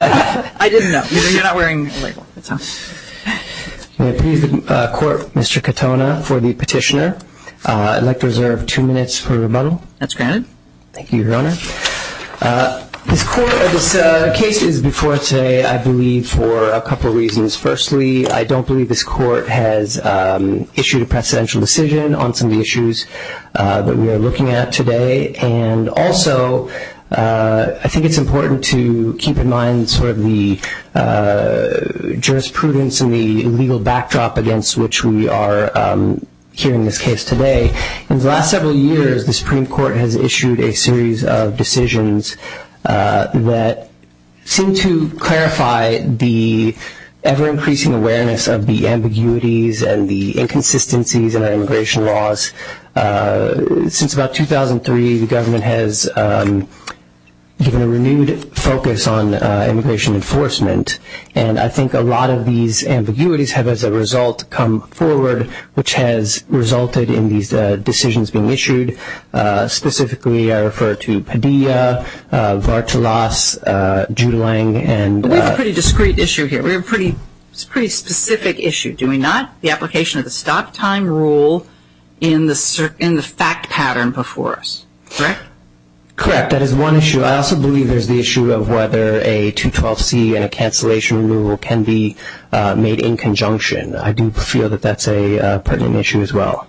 I didn't know. You're not wearing a label. May I please the Court, Mr. Katona, for the petitioner? I'd like to reserve two minutes for rebuttal. That's granted. Thank you, Your Honor. This case is before us today, I believe, for a couple of reasons. Firstly, I don't believe this Court has issued a precedential decision on some of the issues that we are looking at today. And also, I think it's important to keep in mind sort of the jurisprudence and the legal backdrop against which we are hearing this case today. In the last several years, the Supreme Court has issued a series of decisions that seem to clarify the ever-increasing awareness of the ambiguities and the inconsistencies in our immigration laws. Since about 2003, the government has given a renewed focus on immigration enforcement. And I think a lot of these ambiguities have, as a result, come forward, which has resulted in these decisions being issued. Specifically, I refer to Padilla, Vartalas, Judelang, and— We have a pretty discrete issue here. We have a pretty specific issue, do we not? The application of the stop-time rule in the fact pattern before us, correct? Correct. That is one issue. I also believe there's the issue of whether a 212C and a cancellation rule can be made in conjunction. I do feel that that's a pertinent issue as well.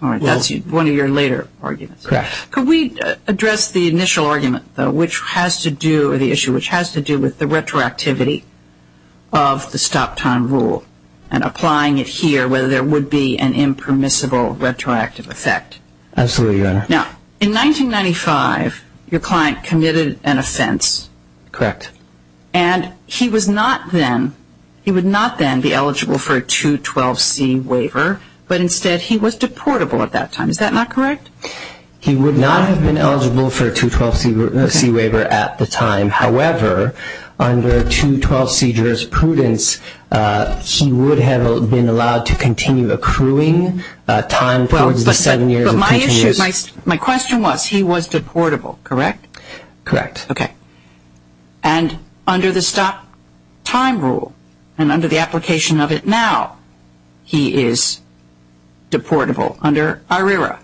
All right. That's one of your later arguments. Correct. Could we address the initial argument, though, which has to do—or the issue which has to do with the retroactivity of the stop-time rule and applying it here, whether there would be an impermissible retroactive effect? Absolutely, Your Honor. Now, in 1995, your client committed an offense. Correct. And he was not then—he would not then be eligible for a 212C waiver, but instead he was deportable at that time. Is that not correct? He would not have been eligible for a 212C waiver at the time. However, under 212C jurisprudence, he would have been allowed to continue accruing time for the seven years of continuous— But my issue—my question was, he was deportable, correct? Correct. Okay. And under the stop-time rule and under the application of it now, he is deportable under IRERA.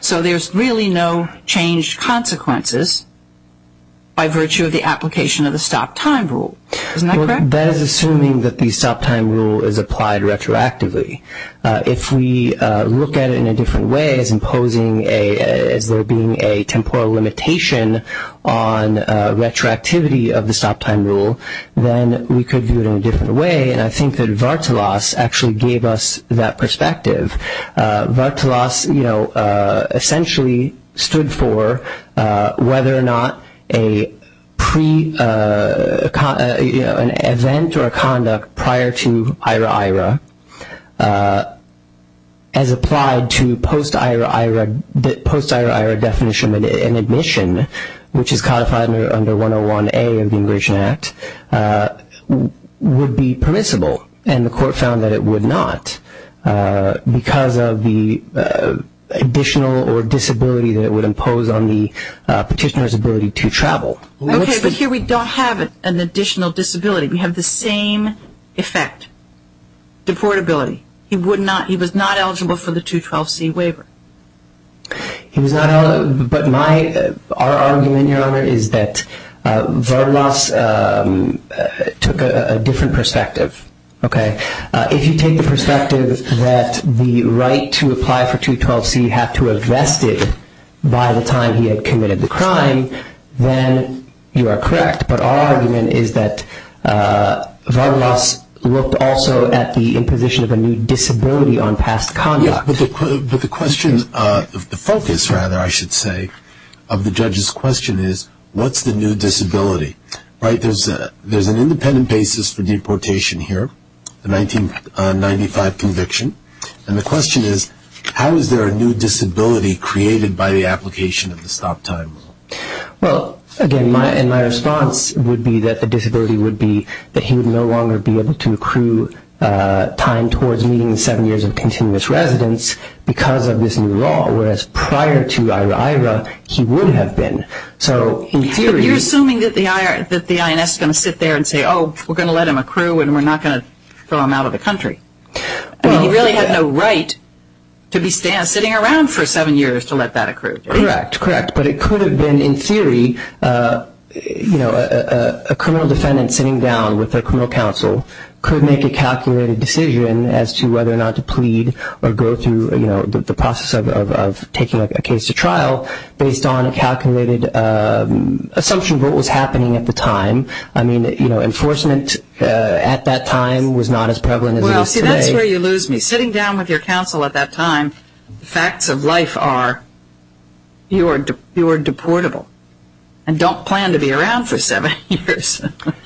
So there's really no changed consequences by virtue of the application of the stop-time rule. Isn't that correct? That is assuming that the stop-time rule is applied retroactively. If we look at it in a different way as imposing a—as there being a temporal limitation on retroactivity of the stop-time rule, then we could do it in a different way, and I think that Vartalas actually gave us that perspective. Vartalas, you know, essentially stood for whether or not a pre—an event or a conduct prior to IRERA as applied to post-IRERA definition and admission, which is codified under 101A of the Immigration Act, would be permissible. And the Court found that it would not because of the additional or disability that it would impose on the petitioner's ability to travel. Okay, but here we don't have an additional disability. We have the same effect, deportability. He would not—he was not eligible for the 212C waiver. He was not—but my—our argument, Your Honor, is that Vartalas took a different perspective, okay? If you take the perspective that the right to apply for 212C had to have vested by the time he had committed the crime, then you are correct, but our argument is that Vartalas looked also at the imposition of a new disability on past conduct. Yeah, but the question—the focus, rather, I should say, of the judge's question is what's the new disability, right? There's an independent basis for deportation here, the 1995 conviction, and the question is how is there a new disability created by the application of the stop time? Well, again, my—and my response would be that the disability would be that he would no longer be able to accrue time towards meeting the seven years of continuous residence because of this new law, whereas prior to IHRA, he would have been. So in theory— But you're assuming that the INS is going to sit there and say, oh, we're going to let him accrue and we're not going to throw him out of the country. I mean, he really had no right to be sitting around for seven years to let that accrue, didn't he? Correct, correct, but it could have been, in theory, you know, a criminal defendant sitting down with their criminal counsel could make a calculated decision as to whether or not to plead or go through, you know, the process of taking a case to trial based on a calculated assumption of what was happening at the time. I mean, you know, enforcement at that time was not as prevalent as it is today. Well, see, that's where you lose me. Sitting down with your counsel at that time, the facts of life are you are deportable and don't plan to be around for seven years.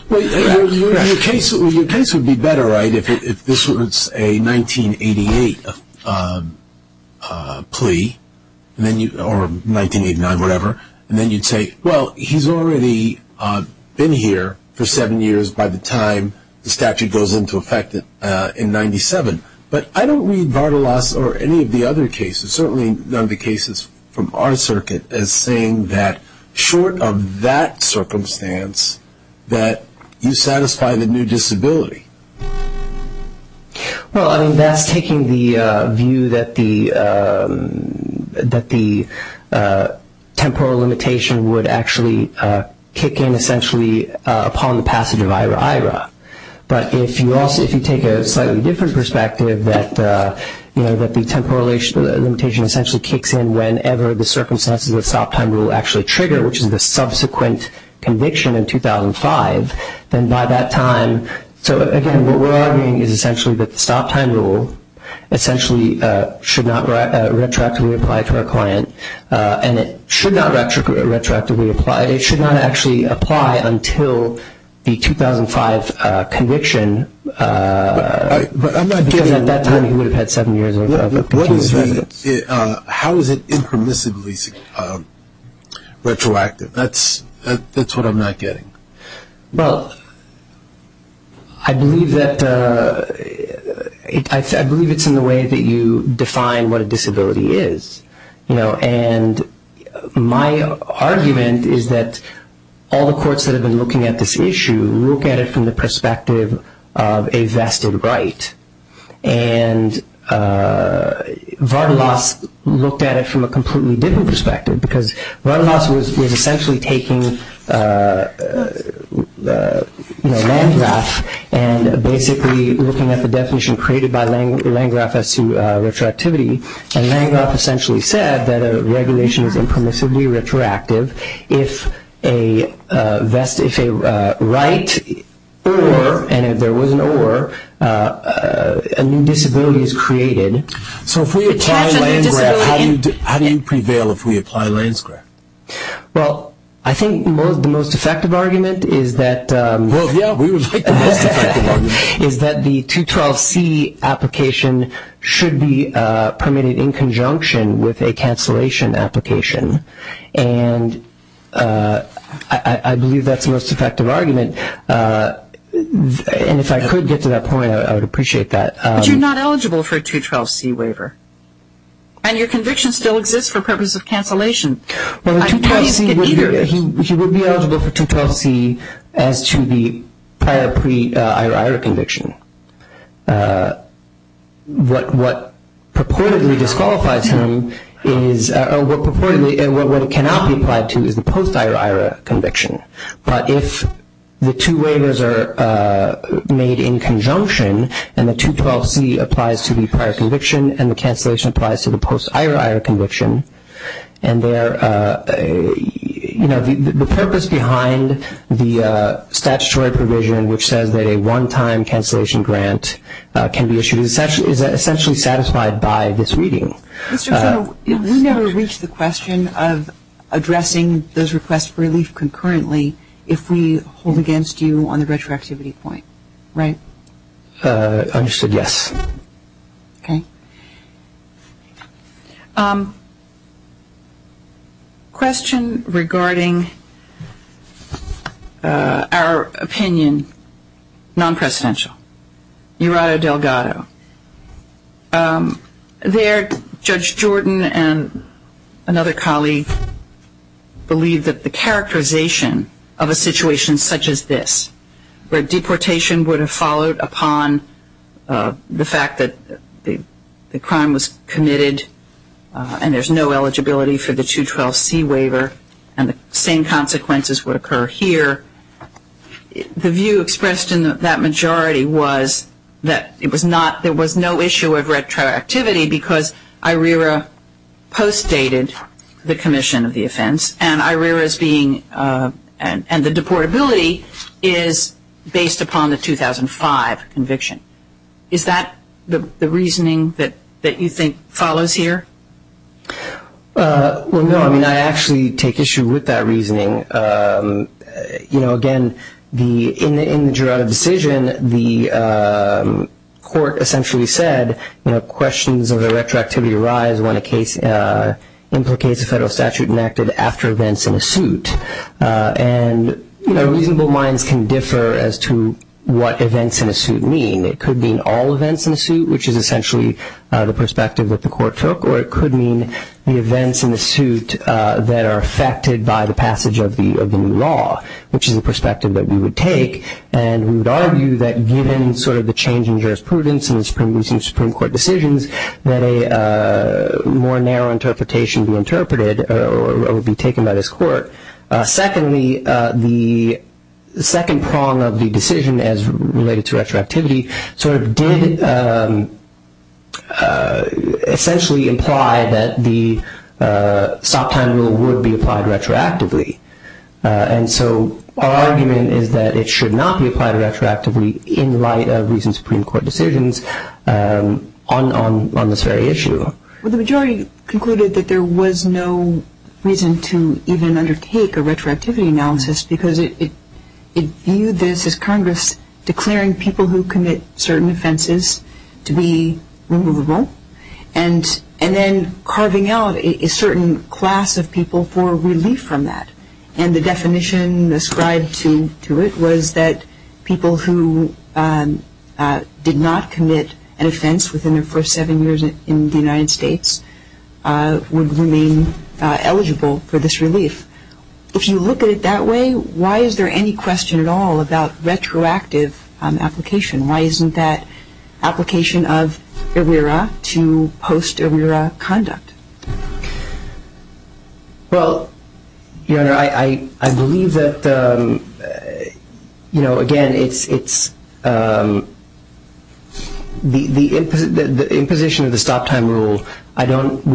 Well, your case would be better, right, if this was a 1988 plea or 1989, whatever, and then you'd say, well, he's already been here for seven years by the time the statute goes into effect in 97. But I don't read Vardalos or any of the other cases, certainly none of the cases from our circuit, as saying that short of that circumstance that you satisfy the new disability. Well, I mean, that's taking the view that the temporal limitation would actually kick in, But if you take a slightly different perspective that, you know, that the temporal limitation essentially kicks in whenever the circumstances of the stop time rule actually trigger, which is the subsequent conviction in 2005, then by that time. So, again, what we're arguing is essentially that the stop time rule essentially should not retroactively apply to our client, and it should not retroactively apply. It should not actually apply until the 2005 conviction, because at that time he would have had seven years of continuous residence. How is it impermissibly retroactive? That's what I'm not getting. Well, I believe it's in the way that you define what a disability is, you know, and my argument is that all the courts that have been looking at this issue look at it from the perspective of a vested right, and Vardalos looked at it from a completely different perspective, because Vardalos was essentially taking Landgraf and basically looking at the definition created by Landgraf as to retroactivity, and Landgraf essentially said that a regulation is impermissibly retroactive if a right or, and if there was an or, a new disability is created. So if we apply Landgraf, how do you prevail if we apply Landgraf? Well, I think the most effective argument is that the 212C application should be permitted in conjunction with a cancellation application, and I believe that's the most effective argument, and if I could get to that point, I would appreciate that. But you're not eligible for a 212C waiver, and your conviction still exists for purpose of cancellation. Well, the 212C would be eligible for 212C as to the prior pre-IRA conviction. What purportedly disqualifies him is, or what purportedly, what it cannot be applied to is the post-IRA conviction, but if the two waivers are made in conjunction and the 212C applies to the prior conviction and the cancellation applies to the post-IRA conviction, and there, you know, the purpose behind the statutory provision, which says that a one-time cancellation grant can be issued, is essentially satisfied by this reading. Mr. General, we never reach the question of addressing those requests for relief concurrently if we hold against you on the retroactivity point, right? Understood, yes. Okay. Question regarding our opinion, non-presidential. Jurado Delgado. There, Judge Jordan and another colleague believe that the characterization of a situation such as this, where deportation would have followed upon the fact that the crime was committed and there's no eligibility for the 212C waiver and the same consequences would occur here, the view expressed in that majority was that it was not, there was no issue of retroactivity because IRIRA postdated the commission of the offense and IRIRA's being, and the deportability is based upon the 2005 conviction. Is that the reasoning that you think follows here? Well, no, I mean, I actually take issue with that reasoning. You know, again, in the Jurado decision, the court essentially said, you know, questions of the retroactivity arise when a case implicates a federal statute enacted after events in a suit. And, you know, reasonable minds can differ as to what events in a suit mean. It could mean all events in a suit, which is essentially the perspective that the court took, or it could mean the events in the suit that are affected by the passage of the new law, which is the perspective that we would take, and we would argue that given sort of the change in jurisprudence in the Supreme Court decisions, that a more narrow interpretation be interpreted or be taken by this court. Secondly, the second prong of the decision as related to retroactivity sort of did essentially imply that the stop-time rule would be applied retroactively. And so our argument is that it should not be applied retroactively in light of recent Supreme Court decisions on this very issue. Well, the majority concluded that there was no reason to even undertake a retroactivity analysis because it viewed this as Congress declaring people who commit certain offenses to be removable and then carving out a certain class of people for relief from that. And the definition ascribed to it was that people who did not commit an offense within their first seven years in the United States would remain eligible for this relief. If you look at it that way, why is there any question at all about retroactive application? Why isn't that application of errea to post-errea conduct? Well, Your Honor, I believe that, again, the imposition of the stop-time rule, we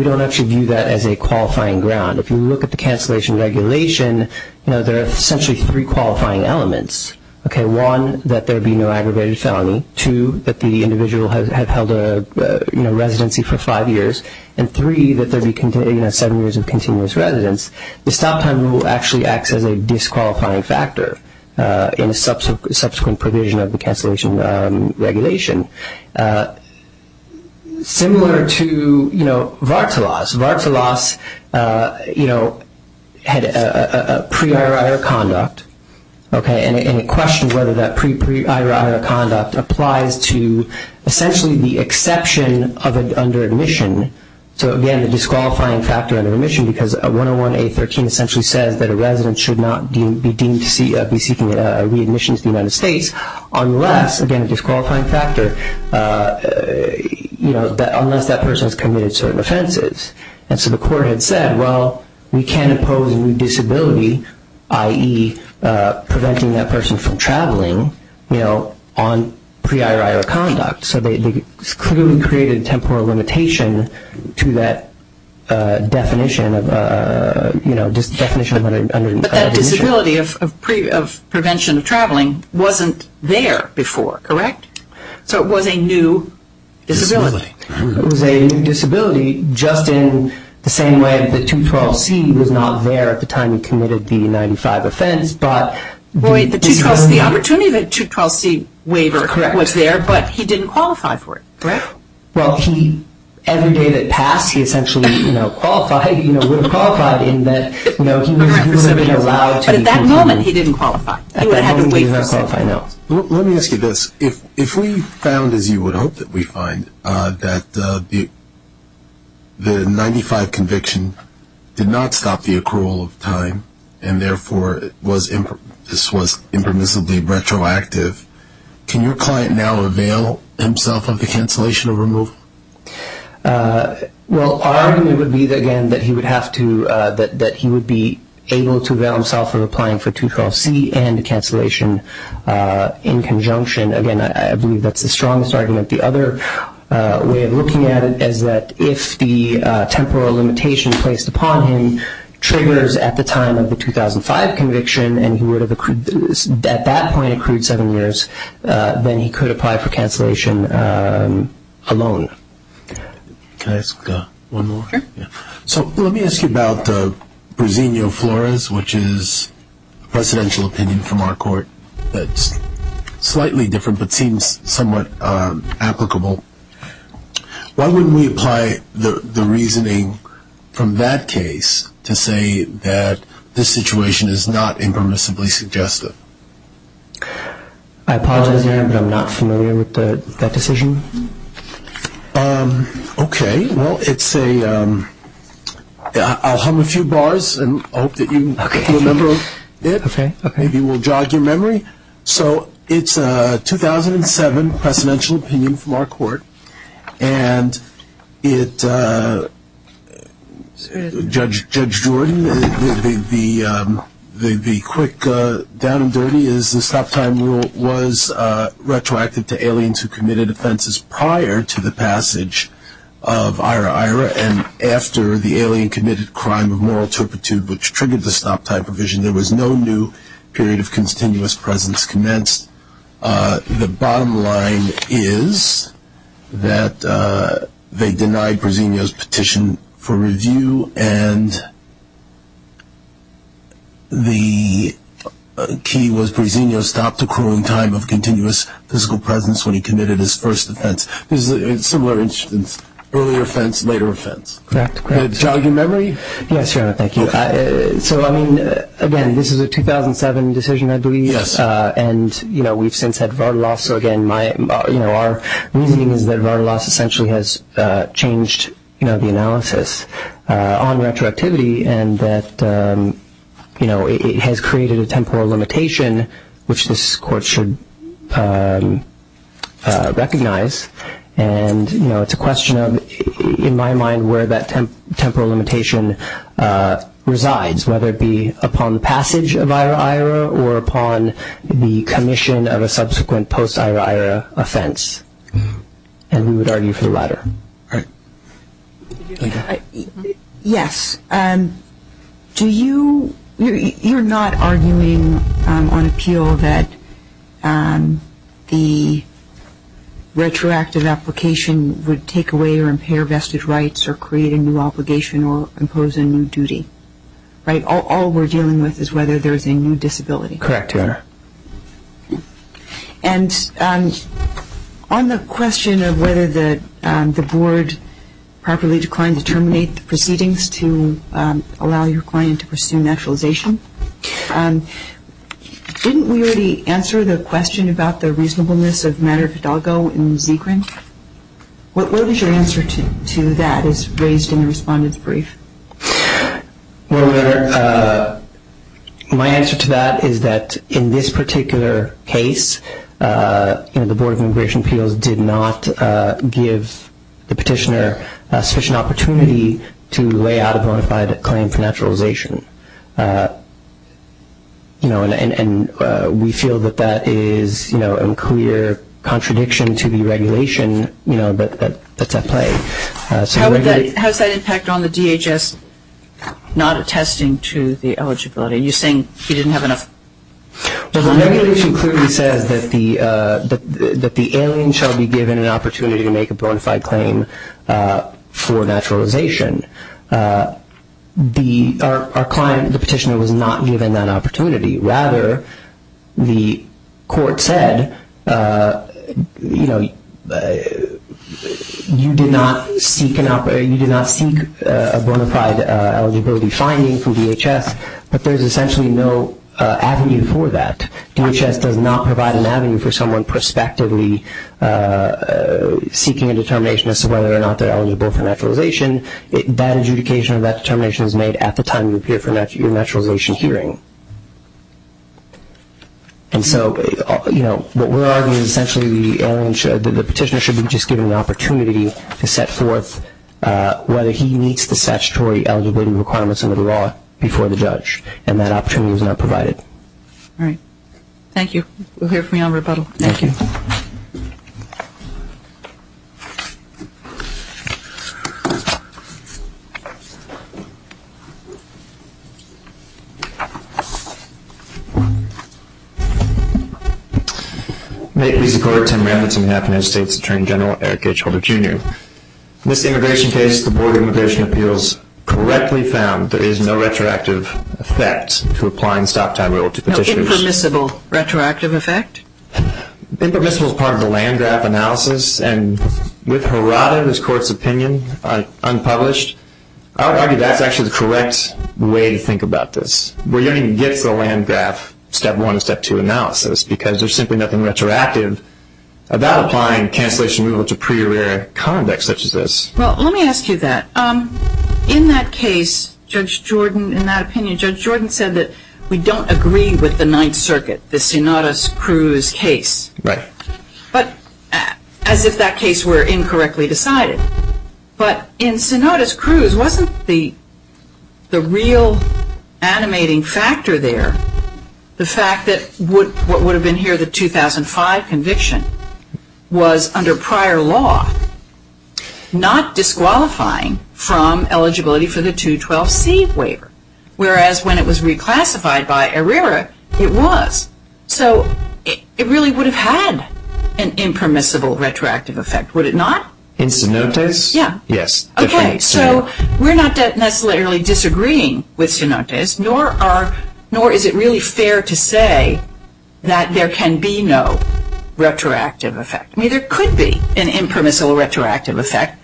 don't actually view that as a qualifying ground. If you look at the cancellation regulation, there are essentially three qualifying elements. One, that there be no aggravated felony. Two, that the individual had held a residency for five years. And three, that there be seven years of continuous residence. The stop-time rule actually acts as a disqualifying factor in a subsequent provision of the cancellation regulation. Similar to Vartalas. Vartalas had a pre-erra-erra conduct, and it questions whether that pre-erra-erra conduct applies to essentially the exception of it under admission. So, again, the disqualifying factor under admission, because 101A13 essentially says that a resident should not be deemed to be seeking readmission to the United States unless, again, a disqualifying factor, unless that person has committed certain offenses. And so the court had said, well, we can impose a new disability, i.e., preventing that person from traveling, you know, on pre-erra-erra conduct. So they clearly created a temporal limitation to that definition of under admission. But that disability of prevention of traveling wasn't there before, correct? So it was a new disability. It was a new disability, just in the same way that 212C was not there at the time he committed the 95 offense, but... Boy, the opportunity that 212C waiver was there, but he didn't qualify for it, correct? Well, every day that passed, he essentially, you know, qualified, you know, would have qualified in that, you know, he would have been allowed to... But at that moment, he didn't qualify. At that moment, he did not qualify, no. Let me ask you this. If we found, as you would hope that we find, that the 95 conviction did not stop the accrual of time and, therefore, this was impermissibly retroactive, can your client now avail himself of the cancellation of removal? Well, our argument would be, again, that he would have to, that he would be able to avail himself of applying for 212C and the cancellation in conjunction. Again, I believe that's the strongest argument. The other way of looking at it is that if the temporal limitation placed upon him triggers at the time of the 2005 conviction and he would have, at that point, accrued seven years, then he could apply for cancellation alone. Can I ask one more? Sure. So let me ask you about Brasinho Flores, which is a presidential opinion from our court that's slightly different but seems somewhat applicable. Why wouldn't we apply the reasoning from that case to say that this situation is not impermissibly suggestive? I apologize, Your Honor, but I'm not familiar with that decision. Okay. Well, it's a, I'll hum a few bars and hope that you remember it. Okay. Maybe we'll jog your memory. So it's a 2007 presidential opinion from our court, and it, Judge Jordan, the quick down-and-dirty is the stop-time rule was retroactive to aliens who committed offenses prior to the passage of IRA-IRA, and after the alien committed a crime of moral turpitude which triggered the stop-time provision. There was no new period of continuous presence commenced. The bottom line is that they denied Brasinho's petition for review, and the key was Brasinho stopped accruing time of continuous physical presence when he committed his first offense. This is a similar instance, earlier offense, later offense. Correct, correct. Can I jog your memory? Yes, Your Honor. Thank you. So, I mean, again, this is a 2007 decision, I believe. Yes. And, you know, we've since had Vardalos, so, again, my, you know, our reasoning is that Vardalos essentially has changed, you know, the analysis on retroactivity, and that, you know, it has created a temporal limitation which this court should recognize, and, you know, it's a question of, in my mind, where that temporal limitation resides, whether it be upon the passage of IRA-IRA or upon the commission of a subsequent post-IRA-IRA offense. And we would argue for the latter. All right. Yes. Do you, you're not arguing on appeal that the retroactive application would take away or impair vested rights or create a new obligation or impose a new duty, right? All we're dealing with is whether there's a new disability. Correct, Your Honor. And on the question of whether the board properly declined to terminate the proceedings to allow your client to pursue naturalization, didn't we already answer the question about the reasonableness of matter fidelgo in Zikrin? What was your answer to that as raised in the respondent's brief? Well, my answer to that is that in this particular case, you know, the Board of Immigration Appeals did not give the petitioner sufficient opportunity to lay out a bona fide claim for naturalization. You know, and we feel that that is, you know, a clear contradiction to the regulation, you know, that's at play. How is that impact on the DHS not attesting to the eligibility? Are you saying he didn't have enough time? Well, the regulation clearly says that the alien shall be given an opportunity to make a bona fide claim for naturalization. Our client, the petitioner, was not given that opportunity. Rather, the court said, you know, you did not seek a bona fide eligibility finding from DHS, but there's essentially no avenue for that. DHS does not provide an avenue for someone prospectively seeking a determination as to whether or not they're eligible for naturalization. That adjudication or that determination is made at the time you appear for your naturalization hearing. And so, you know, what we're arguing is essentially the petitioner should be just given the opportunity to set forth whether he meets the statutory eligibility requirements under the law before the judge, and that opportunity was not provided. All right. Thank you. We'll hear from you on rebuttal. Thank you. Thank you. May it please the court. Tim Rafferty, Manhattan United States Attorney General, Eric H. Holder, Jr. In this immigration case, the Board of Immigration Appeals correctly found there is no retroactive effect to applying the stop time rule to petitioners. Is there an impermissible retroactive effect? Impermissible is part of the land graph analysis, and with Harada, this court's opinion, unpublished, I would argue that's actually the correct way to think about this. We don't even get to the land graph step one and step two analysis, because there's simply nothing retroactive about applying cancellation removal to pre-arrear conduct such as this. Well, let me ask you that. In that case, Judge Jordan, in that opinion, Judge Jordan said that we don't agree with the Ninth Circuit, the Sinodas-Cruz case, as if that case were incorrectly decided. But in Sinodas-Cruz, wasn't the real animating factor there the fact that what would have been here, under the 2005 conviction, was under prior law, not disqualifying from eligibility for the 212C waiver, whereas when it was reclassified by ARERA, it was? So it really would have had an impermissible retroactive effect, would it not? In Sinodas? Yes. Okay, so we're not necessarily disagreeing with Sinodas, nor is it really fair to say that there can be no retroactive effect. I mean, there could be an impermissible retroactive effect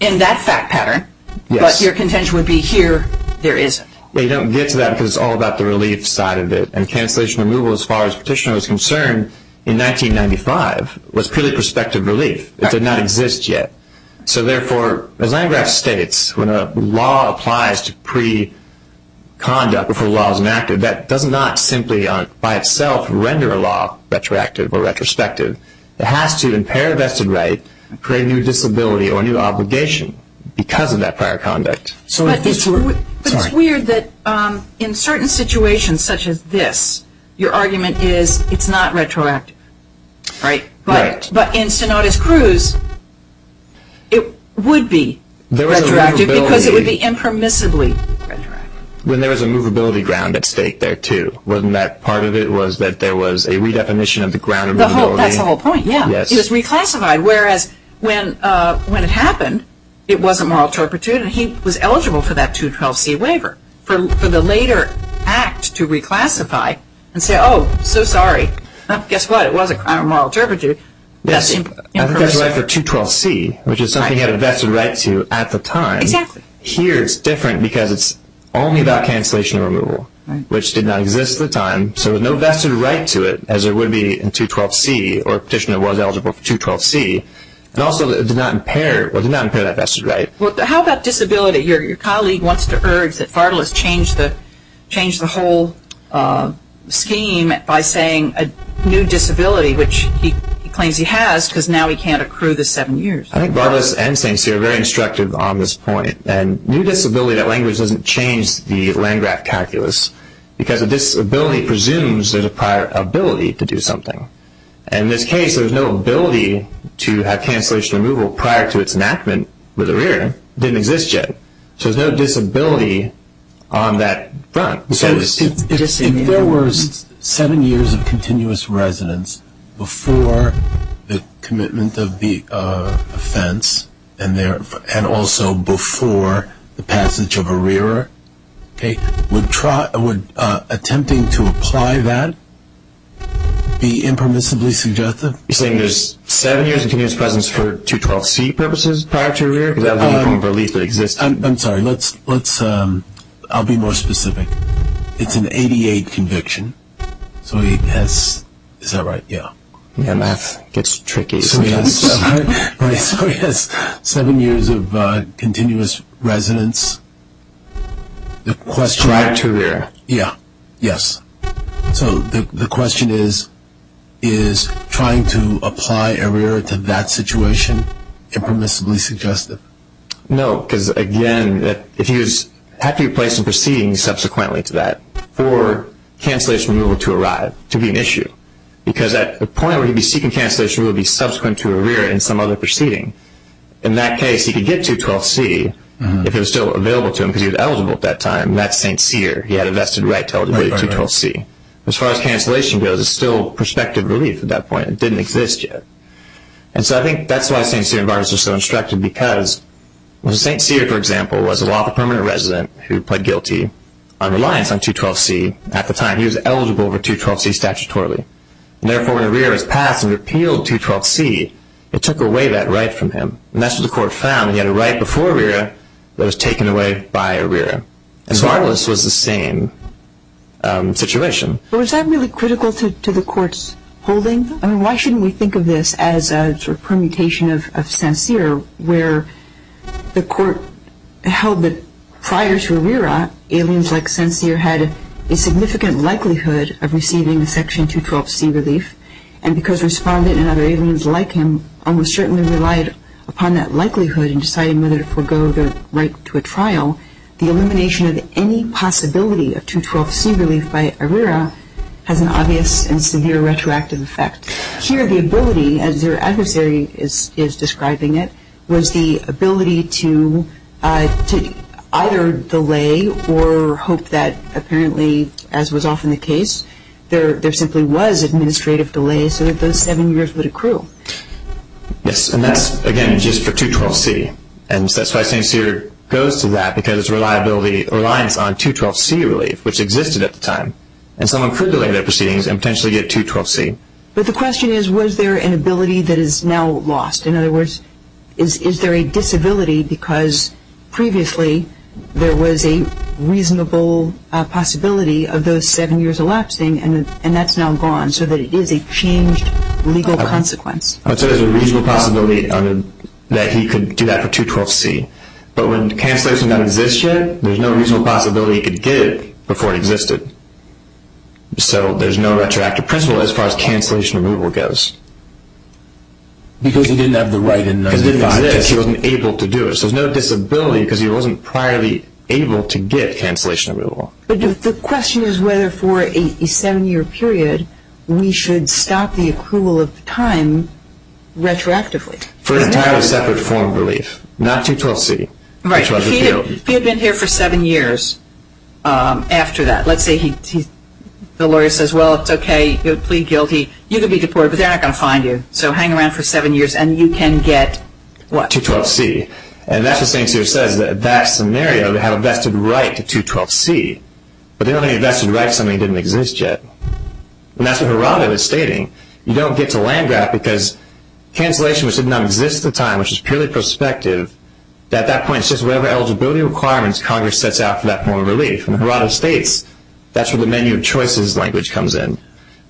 in that fact pattern, but your contention would be here, there isn't. You don't get to that because it's all about the relief side of it, and cancellation removal, as far as Petitioner was concerned, in 1995, was purely prospective relief. It did not exist yet. So therefore, as Landgraf states, when a law applies to pre-conduct before the law is enacted, that does not simply by itself render a law retroactive or retrospective. It has to impair vested right, create a new disability or a new obligation because of that prior conduct. But it's weird that in certain situations such as this, your argument is it's not retroactive, right? Right. But in Sinodas-Cruz, it would be retroactive because it would be impermissibly retroactive. When there was a movability ground at stake there, too, wasn't that part of it was that there was a redefinition of the ground of movability? That's the whole point, yeah. It was reclassified, whereas when it happened, it wasn't moral turpitude, and he was eligible for that 212C waiver for the later act to reclassify and say, Oh, so sorry. Guess what? It was a crime of moral turpitude. I think there's a right for 212C, which is something he had a vested right to at the time. Exactly. Here it's different because it's only about cancellation and removal, which did not exist at the time. So there's no vested right to it, as there would be in 212C, or a petitioner was eligible for 212C. And also, it did not impair that vested right. How about disability? Your colleague wants to urge that Fartalus change the whole scheme by saying a new disability, which he claims he has because now he can't accrue the seven years. I think Fartalus and St. Cyr are very instructive on this point. And new disability, that language doesn't change the Landgraf calculus because a disability presumes there's a prior ability to do something. In this case, there's no ability to have cancellation and removal prior to its enactment with a rearer. It didn't exist yet. So there's no disability on that front. If there were seven years of continuous residence before the commitment of the offense and also before the passage of a rearer, would attempting to apply that be impermissibly suggestive? You're saying there's seven years of continuous presence for 212C purposes prior to a rearer? Because that would be a form of relief that exists. I'm sorry, I'll be more specific. It's an 88 conviction. So he has, is that right? Yeah. Yeah, math gets tricky sometimes. So he has seven years of continuous residence prior to a rearer. Yeah, yes. So the question is, is trying to apply a rearer to that situation impermissibly suggestive? No, because, again, if he was happy to place a proceeding subsequently to that for cancellation and removal to arrive, to be an issue. Because at the point where he'd be seeking cancellation, he would be subsequent to a rearer in some other proceeding. In that case, he could get 212C if it was still available to him because he was eligible at that time. And that's St. Cyr. He had a vested right to eligibility to 212C. As far as cancellation goes, it's still prospective relief at that point. It didn't exist yet. And so I think that's why St. Cyr and Barnes are so instructive. Because when St. Cyr, for example, was a lawful permanent resident who pled guilty on reliance on 212C, at the time, he was eligible for 212C statutorily. And therefore, when a rearer was passed and repealed 212C, it took away that right from him. And that's what the court found. He had a right before a rearer that was taken away by a rearer. And so all of this was the same situation. But was that really critical to the court's holding? I mean, why shouldn't we think of this as a sort of permutation of St. Cyr, where the court held that prior to a rearer, aliens like St. Cyr had a significant likelihood of receiving Section 212C relief. And because respondent and other aliens like him almost certainly relied upon that likelihood in deciding whether to forego their right to a trial, the elimination of any possibility of 212C relief by a rearer has an obvious and severe retroactive effect. Here, the ability, as your adversary is describing it, was the ability to either delay or hope that apparently, as was often the case, there simply was administrative delay so that those seven years would accrue. Yes, and that's, again, just for 212C. And that's why St. Cyr goes to that, because it's reliance on 212C relief, which existed at the time. And someone could delay their proceedings and potentially get 212C. But the question is, was there an ability that is now lost? In other words, is there a disability because previously there was a reasonable possibility of those seven years elapsing and that's now gone so that it is a changed legal consequence? I would say there's a reasonable possibility that he could do that for 212C. But when cancellation doesn't exist yet, there's no reasonable possibility he could get it before it existed. So there's no retroactive principle as far as cancellation removal goes. Because he didn't have the right in 1995. Because it didn't exist. Because he wasn't able to do it. So there's no disability because he wasn't priorly able to get cancellation removal. But the question is whether for a seven-year period we should stop the accrual of the time retroactively. For an entirely separate form of relief, not 212C, which was repealed. If he had been here for seven years after that. Let's say the lawyer says, well, it's okay. You'll plead guilty. You could be deported, but they're not going to find you. So hang around for seven years and you can get what? 212C. And that's what St. Cyr says. That scenario would have a vested right to 212C. But there aren't any vested rights. Something didn't exist yet. And that's what Harada was stating. You don't get to Landgraf because cancellation, which did not exist at the time, which is purely prospective, at that point it's just whatever eligibility requirements Congress sets out for that form of relief. And Harada states that's where the menu of choices language comes in.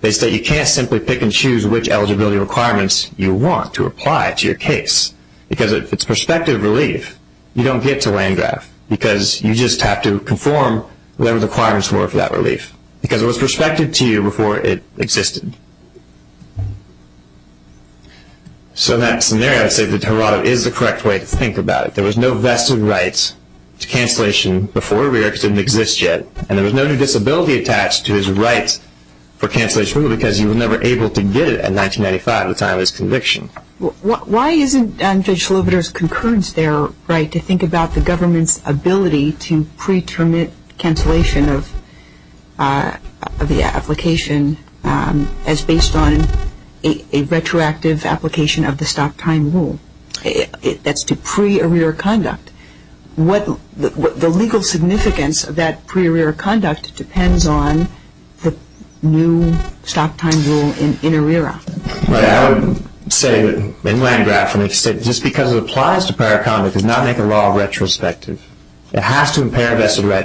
They say you can't simply pick and choose which eligibility requirements you want to apply to your case. Because if it's prospective relief, you don't get to Landgraf. Because you just have to conform whatever the requirements were for that relief. Because it was prospective to you before it existed. So in that scenario, I would say that Harada is the correct way to think about it. There was no vested right to cancellation before it didn't exist yet. And there was no new disability attached to his right for cancellation because he was never able to get it in 1995 at the time of his conviction. Why isn't Judge Slobodar's concurrence there, right, to think about the government's ability to pre-terminate cancellation of the application as based on a retroactive application of the stop time rule? That's to pre-arrear conduct. The legal significance of that pre-arrear conduct depends on the new stop time rule in arrear. I would say in Landgraf, just because it applies to paraconduct does not make a law retrospective. It has to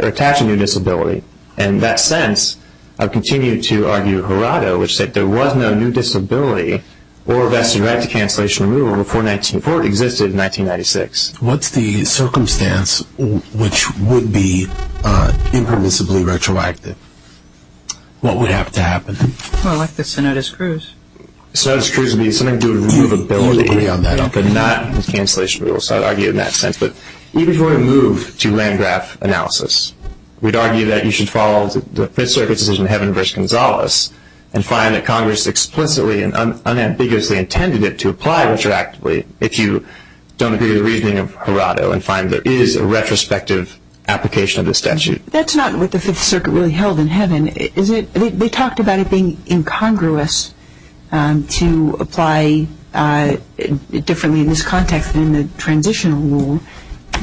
attach a new disability. In that sense, I would continue to argue Harada, which said there was no new disability or vested right to cancellation removal before it existed in 1996. What's the circumstance which would be impermissibly retroactive? What would have to happen? Well, like the Cenotis-Cruz. Cenotis-Cruz would be something to do with removability, but not cancellation removal. So I would argue in that sense. Even if we were to move to Landgraf analysis, we'd argue that you should follow the Fifth Circuit's decision, Heaven v. Gonzales, and find that Congress explicitly and unambiguously intended it to apply retroactively if you don't agree with the reasoning of Harada and find there is a retrospective application of the statute. That's not what the Fifth Circuit really held in Heaven. They talked about it being incongruous to apply differently in this context than in the transitional rule.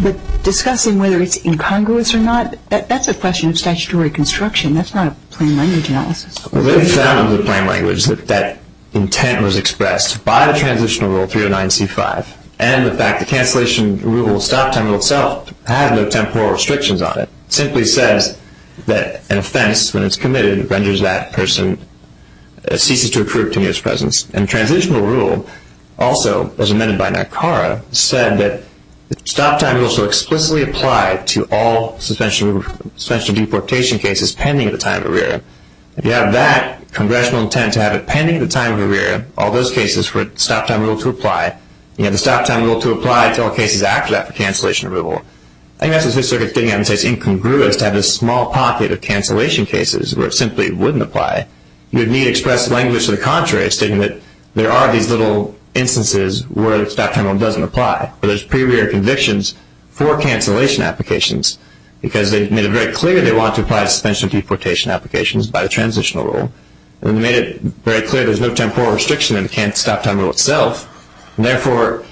But discussing whether it's incongruous or not, that's a question of statutory construction. That's not a plain language analysis. Well, they found in the plain language that that intent was expressed by the transitional rule 309C5 and the fact the cancellation removal stop time rule itself had no temporal restrictions on it. It simply says that an offense, when it's committed, renders that person, ceases to occur to me of its presence. And the transitional rule also, as amended by Nakara, said that the stop time rule shall explicitly apply to all suspension of deportation cases pending at the time of arrear. If you have that congressional intent to have it pending at the time of arrear, all those cases for a stop time rule to apply, you have the stop time rule to apply to all cases after that for cancellation removal. I think that's what the Fifth Circuit's getting at when it says it's incongruous to have this small pocket of cancellation cases where it simply wouldn't apply. You would need to express language to the contrary, stating that there are these little instances where the stop time rule doesn't apply. There's pre-rear convictions for cancellation applications because they made it very clear they wanted to apply to suspension of deportation applications by the transitional rule. And they made it very clear there's no temporal restriction in the stop time rule itself. And therefore,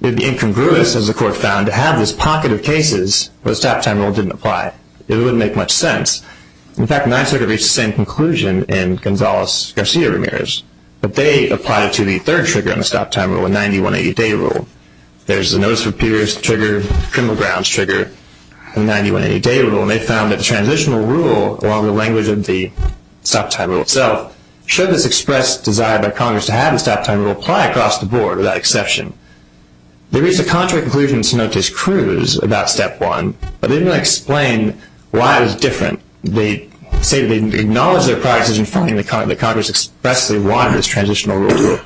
it would be incongruous, as the Court found, to have this pocket of cases where the stop time rule didn't apply. It wouldn't make much sense. In fact, the Ninth Circuit reached the same conclusion in Gonzales-Garcia-Ramirez, but they applied it to the third trigger on the stop time rule, the 90-180-Day Rule. There's the Notice of Appearance trigger, Criminal Grounds trigger, and the 90-180-Day Rule. And they found that the transitional rule, along with the language of the stop time rule itself, showed this expressed desire by Congress to have the stop time rule apply across the board, without exception. They reached a contrary conclusion in Cenotes Cruz about Step 1, but they didn't explain why it was different. They say they acknowledge their prior decision finding that Congress expressly wanted this transitional rule to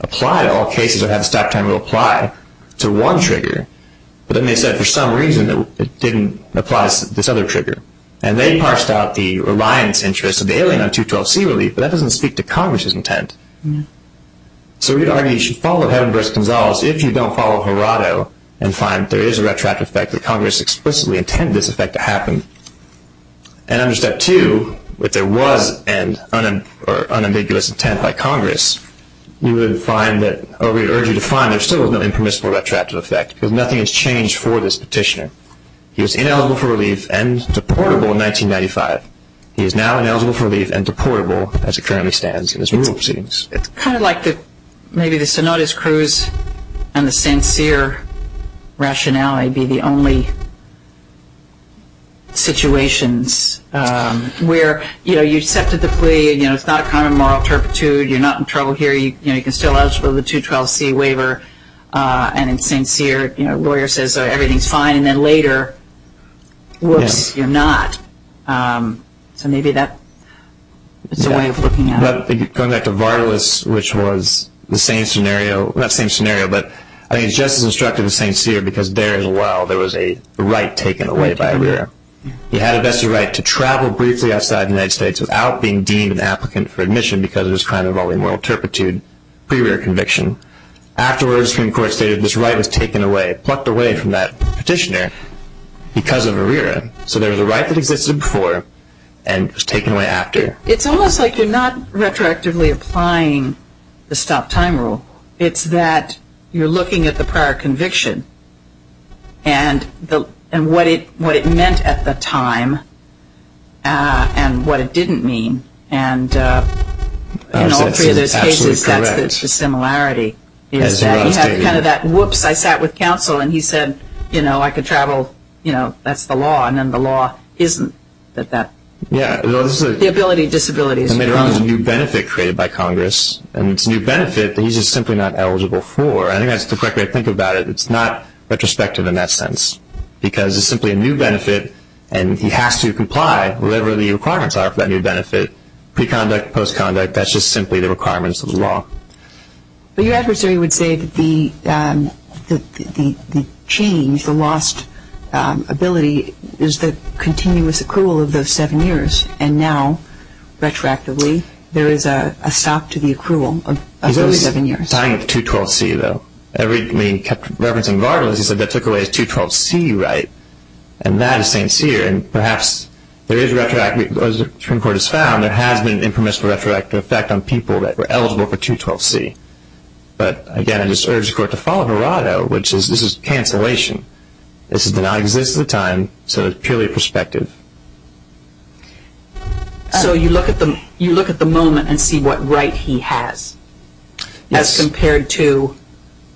apply to all cases or have the stop time rule apply to one trigger, but then they said for some reason it didn't apply to this other trigger. And they parsed out the reliance interest of the alien on 212C relief, but that doesn't speak to Congress's intent. So we'd argue you should follow Heaven vs. Gonzales if you don't follow Gerardo and find there is a retroactive effect that Congress explicitly intended this effect to happen. And under Step 2, if there was an unambiguous intent by Congress, you would find that, or we'd urge you to find there still is no impermissible retroactive effect because nothing has changed for this petitioner. He was ineligible for relief and deportable in 1995. He is now ineligible for relief and deportable as it currently stands in this rule of proceedings. It's kind of like maybe the Cenotis Cruz and the St. Cyr rationale would be the only situations where, you know, you accepted the plea, you know, it's not a common moral turpitude, you're not in trouble here, you know, you can still ask for the 212C waiver, and in St. Cyr, you know, a lawyer says everything's fine, and then later, whoops, you're not. So maybe that's a way of looking at it. Going back to Vardalos, which was the same scenario, not the same scenario, but I think it's just as instructive in St. Cyr because there as well, there was a right taken away by ARERA. He had a vested right to travel briefly outside the United States without being deemed an applicant for admission because of his crime involving moral turpitude, pre-ARERA conviction. Afterwards, Supreme Court stated this right was taken away, plucked away from that petitioner because of ARERA. So there was a right that existed before and was taken away after. It's almost like you're not retroactively applying the stop time rule. It's that you're looking at the prior conviction and what it meant at the time and what it didn't mean, and in all three of those cases, that's the similarity. He had kind of that whoops, I sat with counsel, and he said, you know, I could travel, you know, that's the law, and then the law isn't. The ability and disability is wrong. There is a new benefit created by Congress, and it's a new benefit that he's just simply not eligible for. I think that's the correct way to think about it. It's not retrospective in that sense because it's simply a new benefit, and he has to comply, whatever the requirements are for that new benefit, pre-conduct, post-conduct, that's just simply the requirements of the law. But your adversary would say that the change, the lost ability, is the continuous accrual of those seven years, and now retroactively there is a stop to the accrual of those seven years. He's always tying it to 212C, though. I mean, he kept referencing Vargas. He said that took away his 212C right, and that is St. Cyr, and perhaps there is retroactively, as the Supreme Court has found, there has been an impermissible retroactive effect on people that were eligible for 212C. But, again, I just urge the Court to follow Virado, which is this is cancellation. This does not exist at the time, so it's purely perspective. So you look at the moment and see what right he has as compared to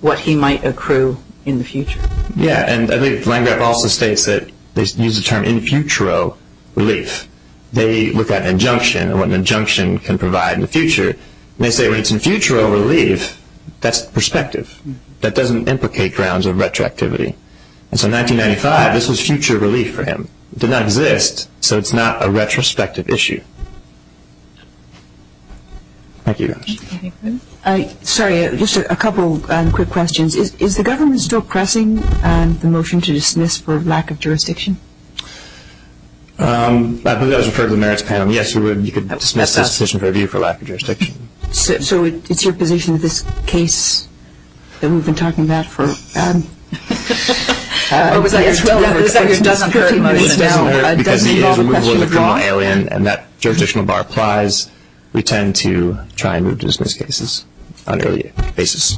what he might accrue in the future. Yeah, and I think Langreth also states that they use the term infutero relief. They look at an injunction and what an injunction can provide in the future, and they say when it's infutero relief, that's perspective. That doesn't implicate grounds of retroactivity. And so 1995, this was future relief for him. It did not exist, so it's not a retrospective issue. Thank you, guys. Sorry, just a couple quick questions. Is the government still pressing the motion to dismiss for lack of jurisdiction? I believe that was referred to the merits panel. Yes, you could dismiss this decision for lack of jurisdiction. So it's your position that this case that we've been talking about for 15 minutes now doesn't involve a question of law? It doesn't hurt because it is removal of the criminal alien, and that jurisdictional bar applies. We tend to try and move to dismiss cases on an early basis.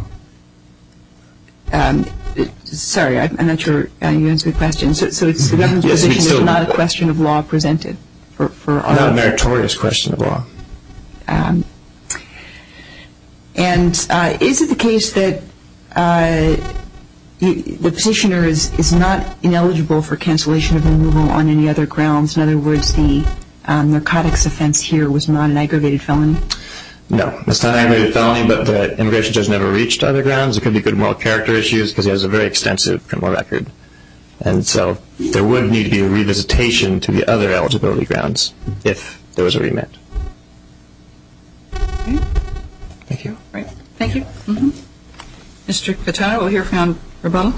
Sorry, I'm not sure you answered the question. So the government's position is it's not a question of law presented? Not a meritorious question of law. And is it the case that the petitioner is not ineligible for cancellation of removal on any other grounds? In other words, the narcotics offense here was not an aggravated felony? No, it's not an aggravated felony, but the immigration judge never reached other grounds. It could be good moral character issues because he has a very extensive criminal record. And so there would need to be a revisitation to the other eligibility grounds if there was a remit. Thank you. Thank you. Mr. Catano, we'll hear from Roboto.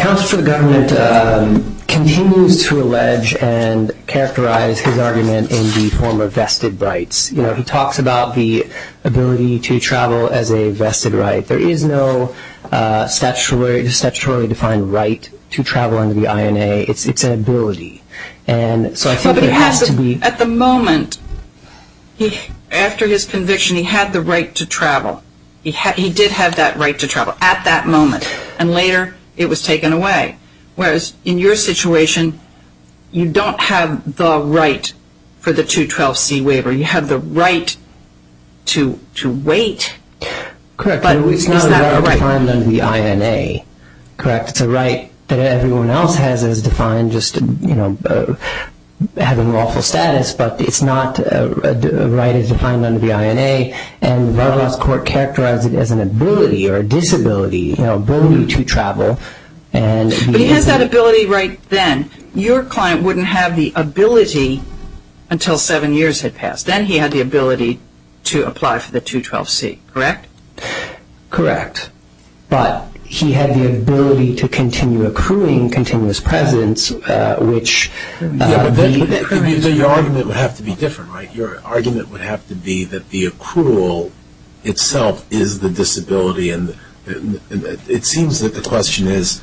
Counsel for the government continues to allege and characterize his argument in the form of vested rights. You know, he talks about the ability to travel as a vested right. There is no statutorily defined right to travel under the INA. It's an ability. And so I think there has to be. At the moment, after his conviction, he had the right to travel. He did have that right to travel at that moment, and later it was taken away. Whereas in your situation, you don't have the right for the 212C waiver. You have the right to wait, but is that a right? Correct. It's not a right defined under the INA. Correct. It's a right that everyone else has as defined just, you know, having lawful status, but it's not a right as defined under the INA. And Roboto's court characterized it as an ability or a disability, you know, ability to travel. But he has that ability right then. And your client wouldn't have the ability until seven years had passed. Then he had the ability to apply for the 212C, correct? Correct. But he had the ability to continue accruing continuous presence, which the accrual. Your argument would have to be different, right? Your argument would have to be that the accrual itself is the disability. It seems that the question is,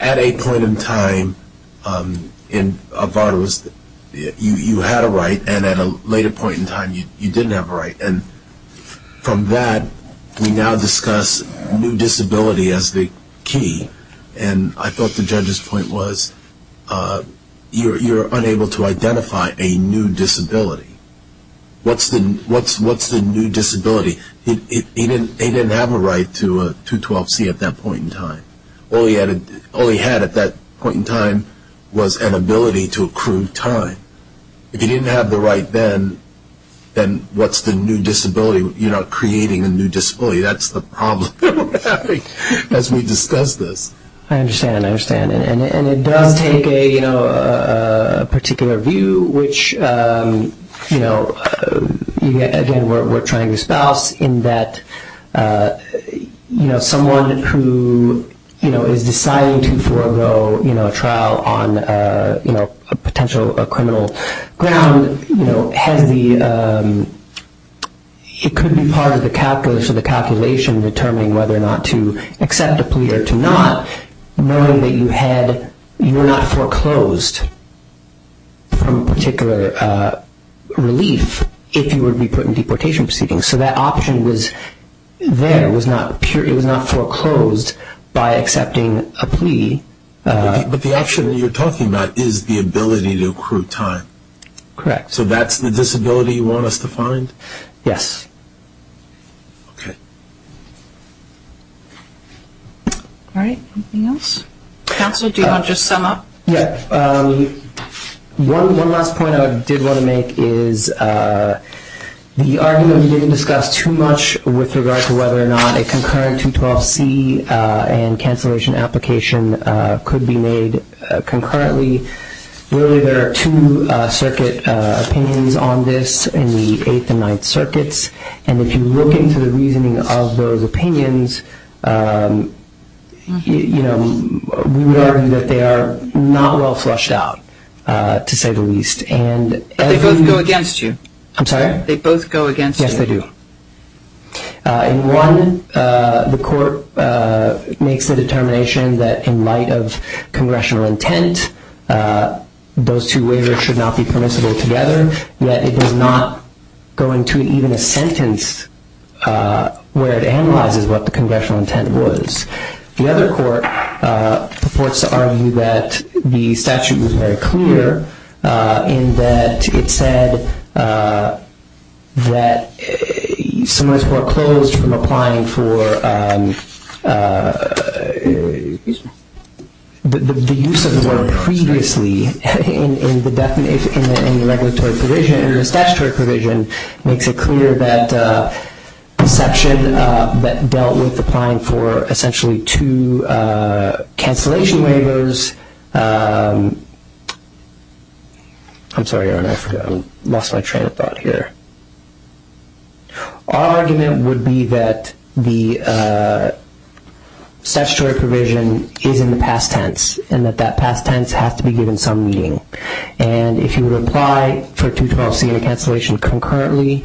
at a point in time, in Roboto's, you had a right, and at a later point in time, you didn't have a right. And from that, we now discuss new disability as the key. And I thought the judge's point was you're unable to identify a new disability. What's the new disability? He didn't have a right to a 212C at that point in time. All he had at that point in time was an ability to accrue time. If he didn't have the right then, then what's the new disability? You're not creating a new disability. That's the problem as we discuss this. I understand. I understand. And it does take a particular view, which, again, we're trying to espouse, in that someone who is deciding to forego a trial on a potential criminal ground has the ‑‑ it could be part of the calculation determining whether or not to accept a plea or to not, knowing that you were not foreclosed from particular relief if you were to be put in deportation proceedings. So that option there was not foreclosed by accepting a plea. But the option that you're talking about is the ability to accrue time. Correct. So that's the disability you want us to find? Yes. Okay. All right. Anything else? Counsel, do you want to just sum up? Yeah. One last point I did want to make is the argument we didn't discuss too much with regard to whether or not a concurrent 212C and cancellation application could be made concurrently, really there are two circuit opinions on this in the Eighth and Ninth Circuits. And if you look into the reasoning of those opinions, we would argue that they are not well flushed out to say the least. But they both go against you. I'm sorry? They both go against you. Yes, they do. In one, the court makes the determination that in light of congressional intent, those two waivers should not be permissible together, yet it does not go into even a sentence where it analyzes what the congressional intent was. The other court purports to argue that the statute was very clear in that it said that in the regulatory provision, in the statutory provision, makes it clear that the section that dealt with applying for essentially two cancellation waivers. I'm sorry, I lost my train of thought here. Our argument would be that the statutory provision is in the past tense and that that past tense has to be given some meaning. And if you would apply for a 212C and a cancellation concurrently,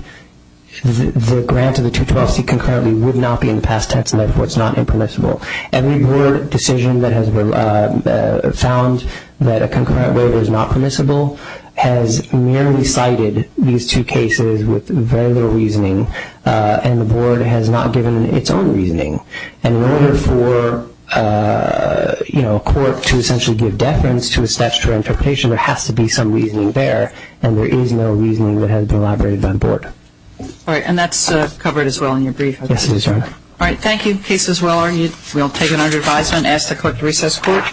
the grant of the 212C concurrently would not be in the past tense, and therefore it's not impermissible. Every board decision that has found that a concurrent waiver is not permissible has merely cited these two cases with very little reasoning, and the board has not given its own reasoning. And in order for a court to essentially give deference to a statutory interpretation, there has to be some reasoning there, and there is no reasoning that has been elaborated by the board. All right, and that's covered as well in your brief. Yes, it is, Your Honor. All right, thank you. The case is well argued. We'll take it under advisement and ask the court to recess court.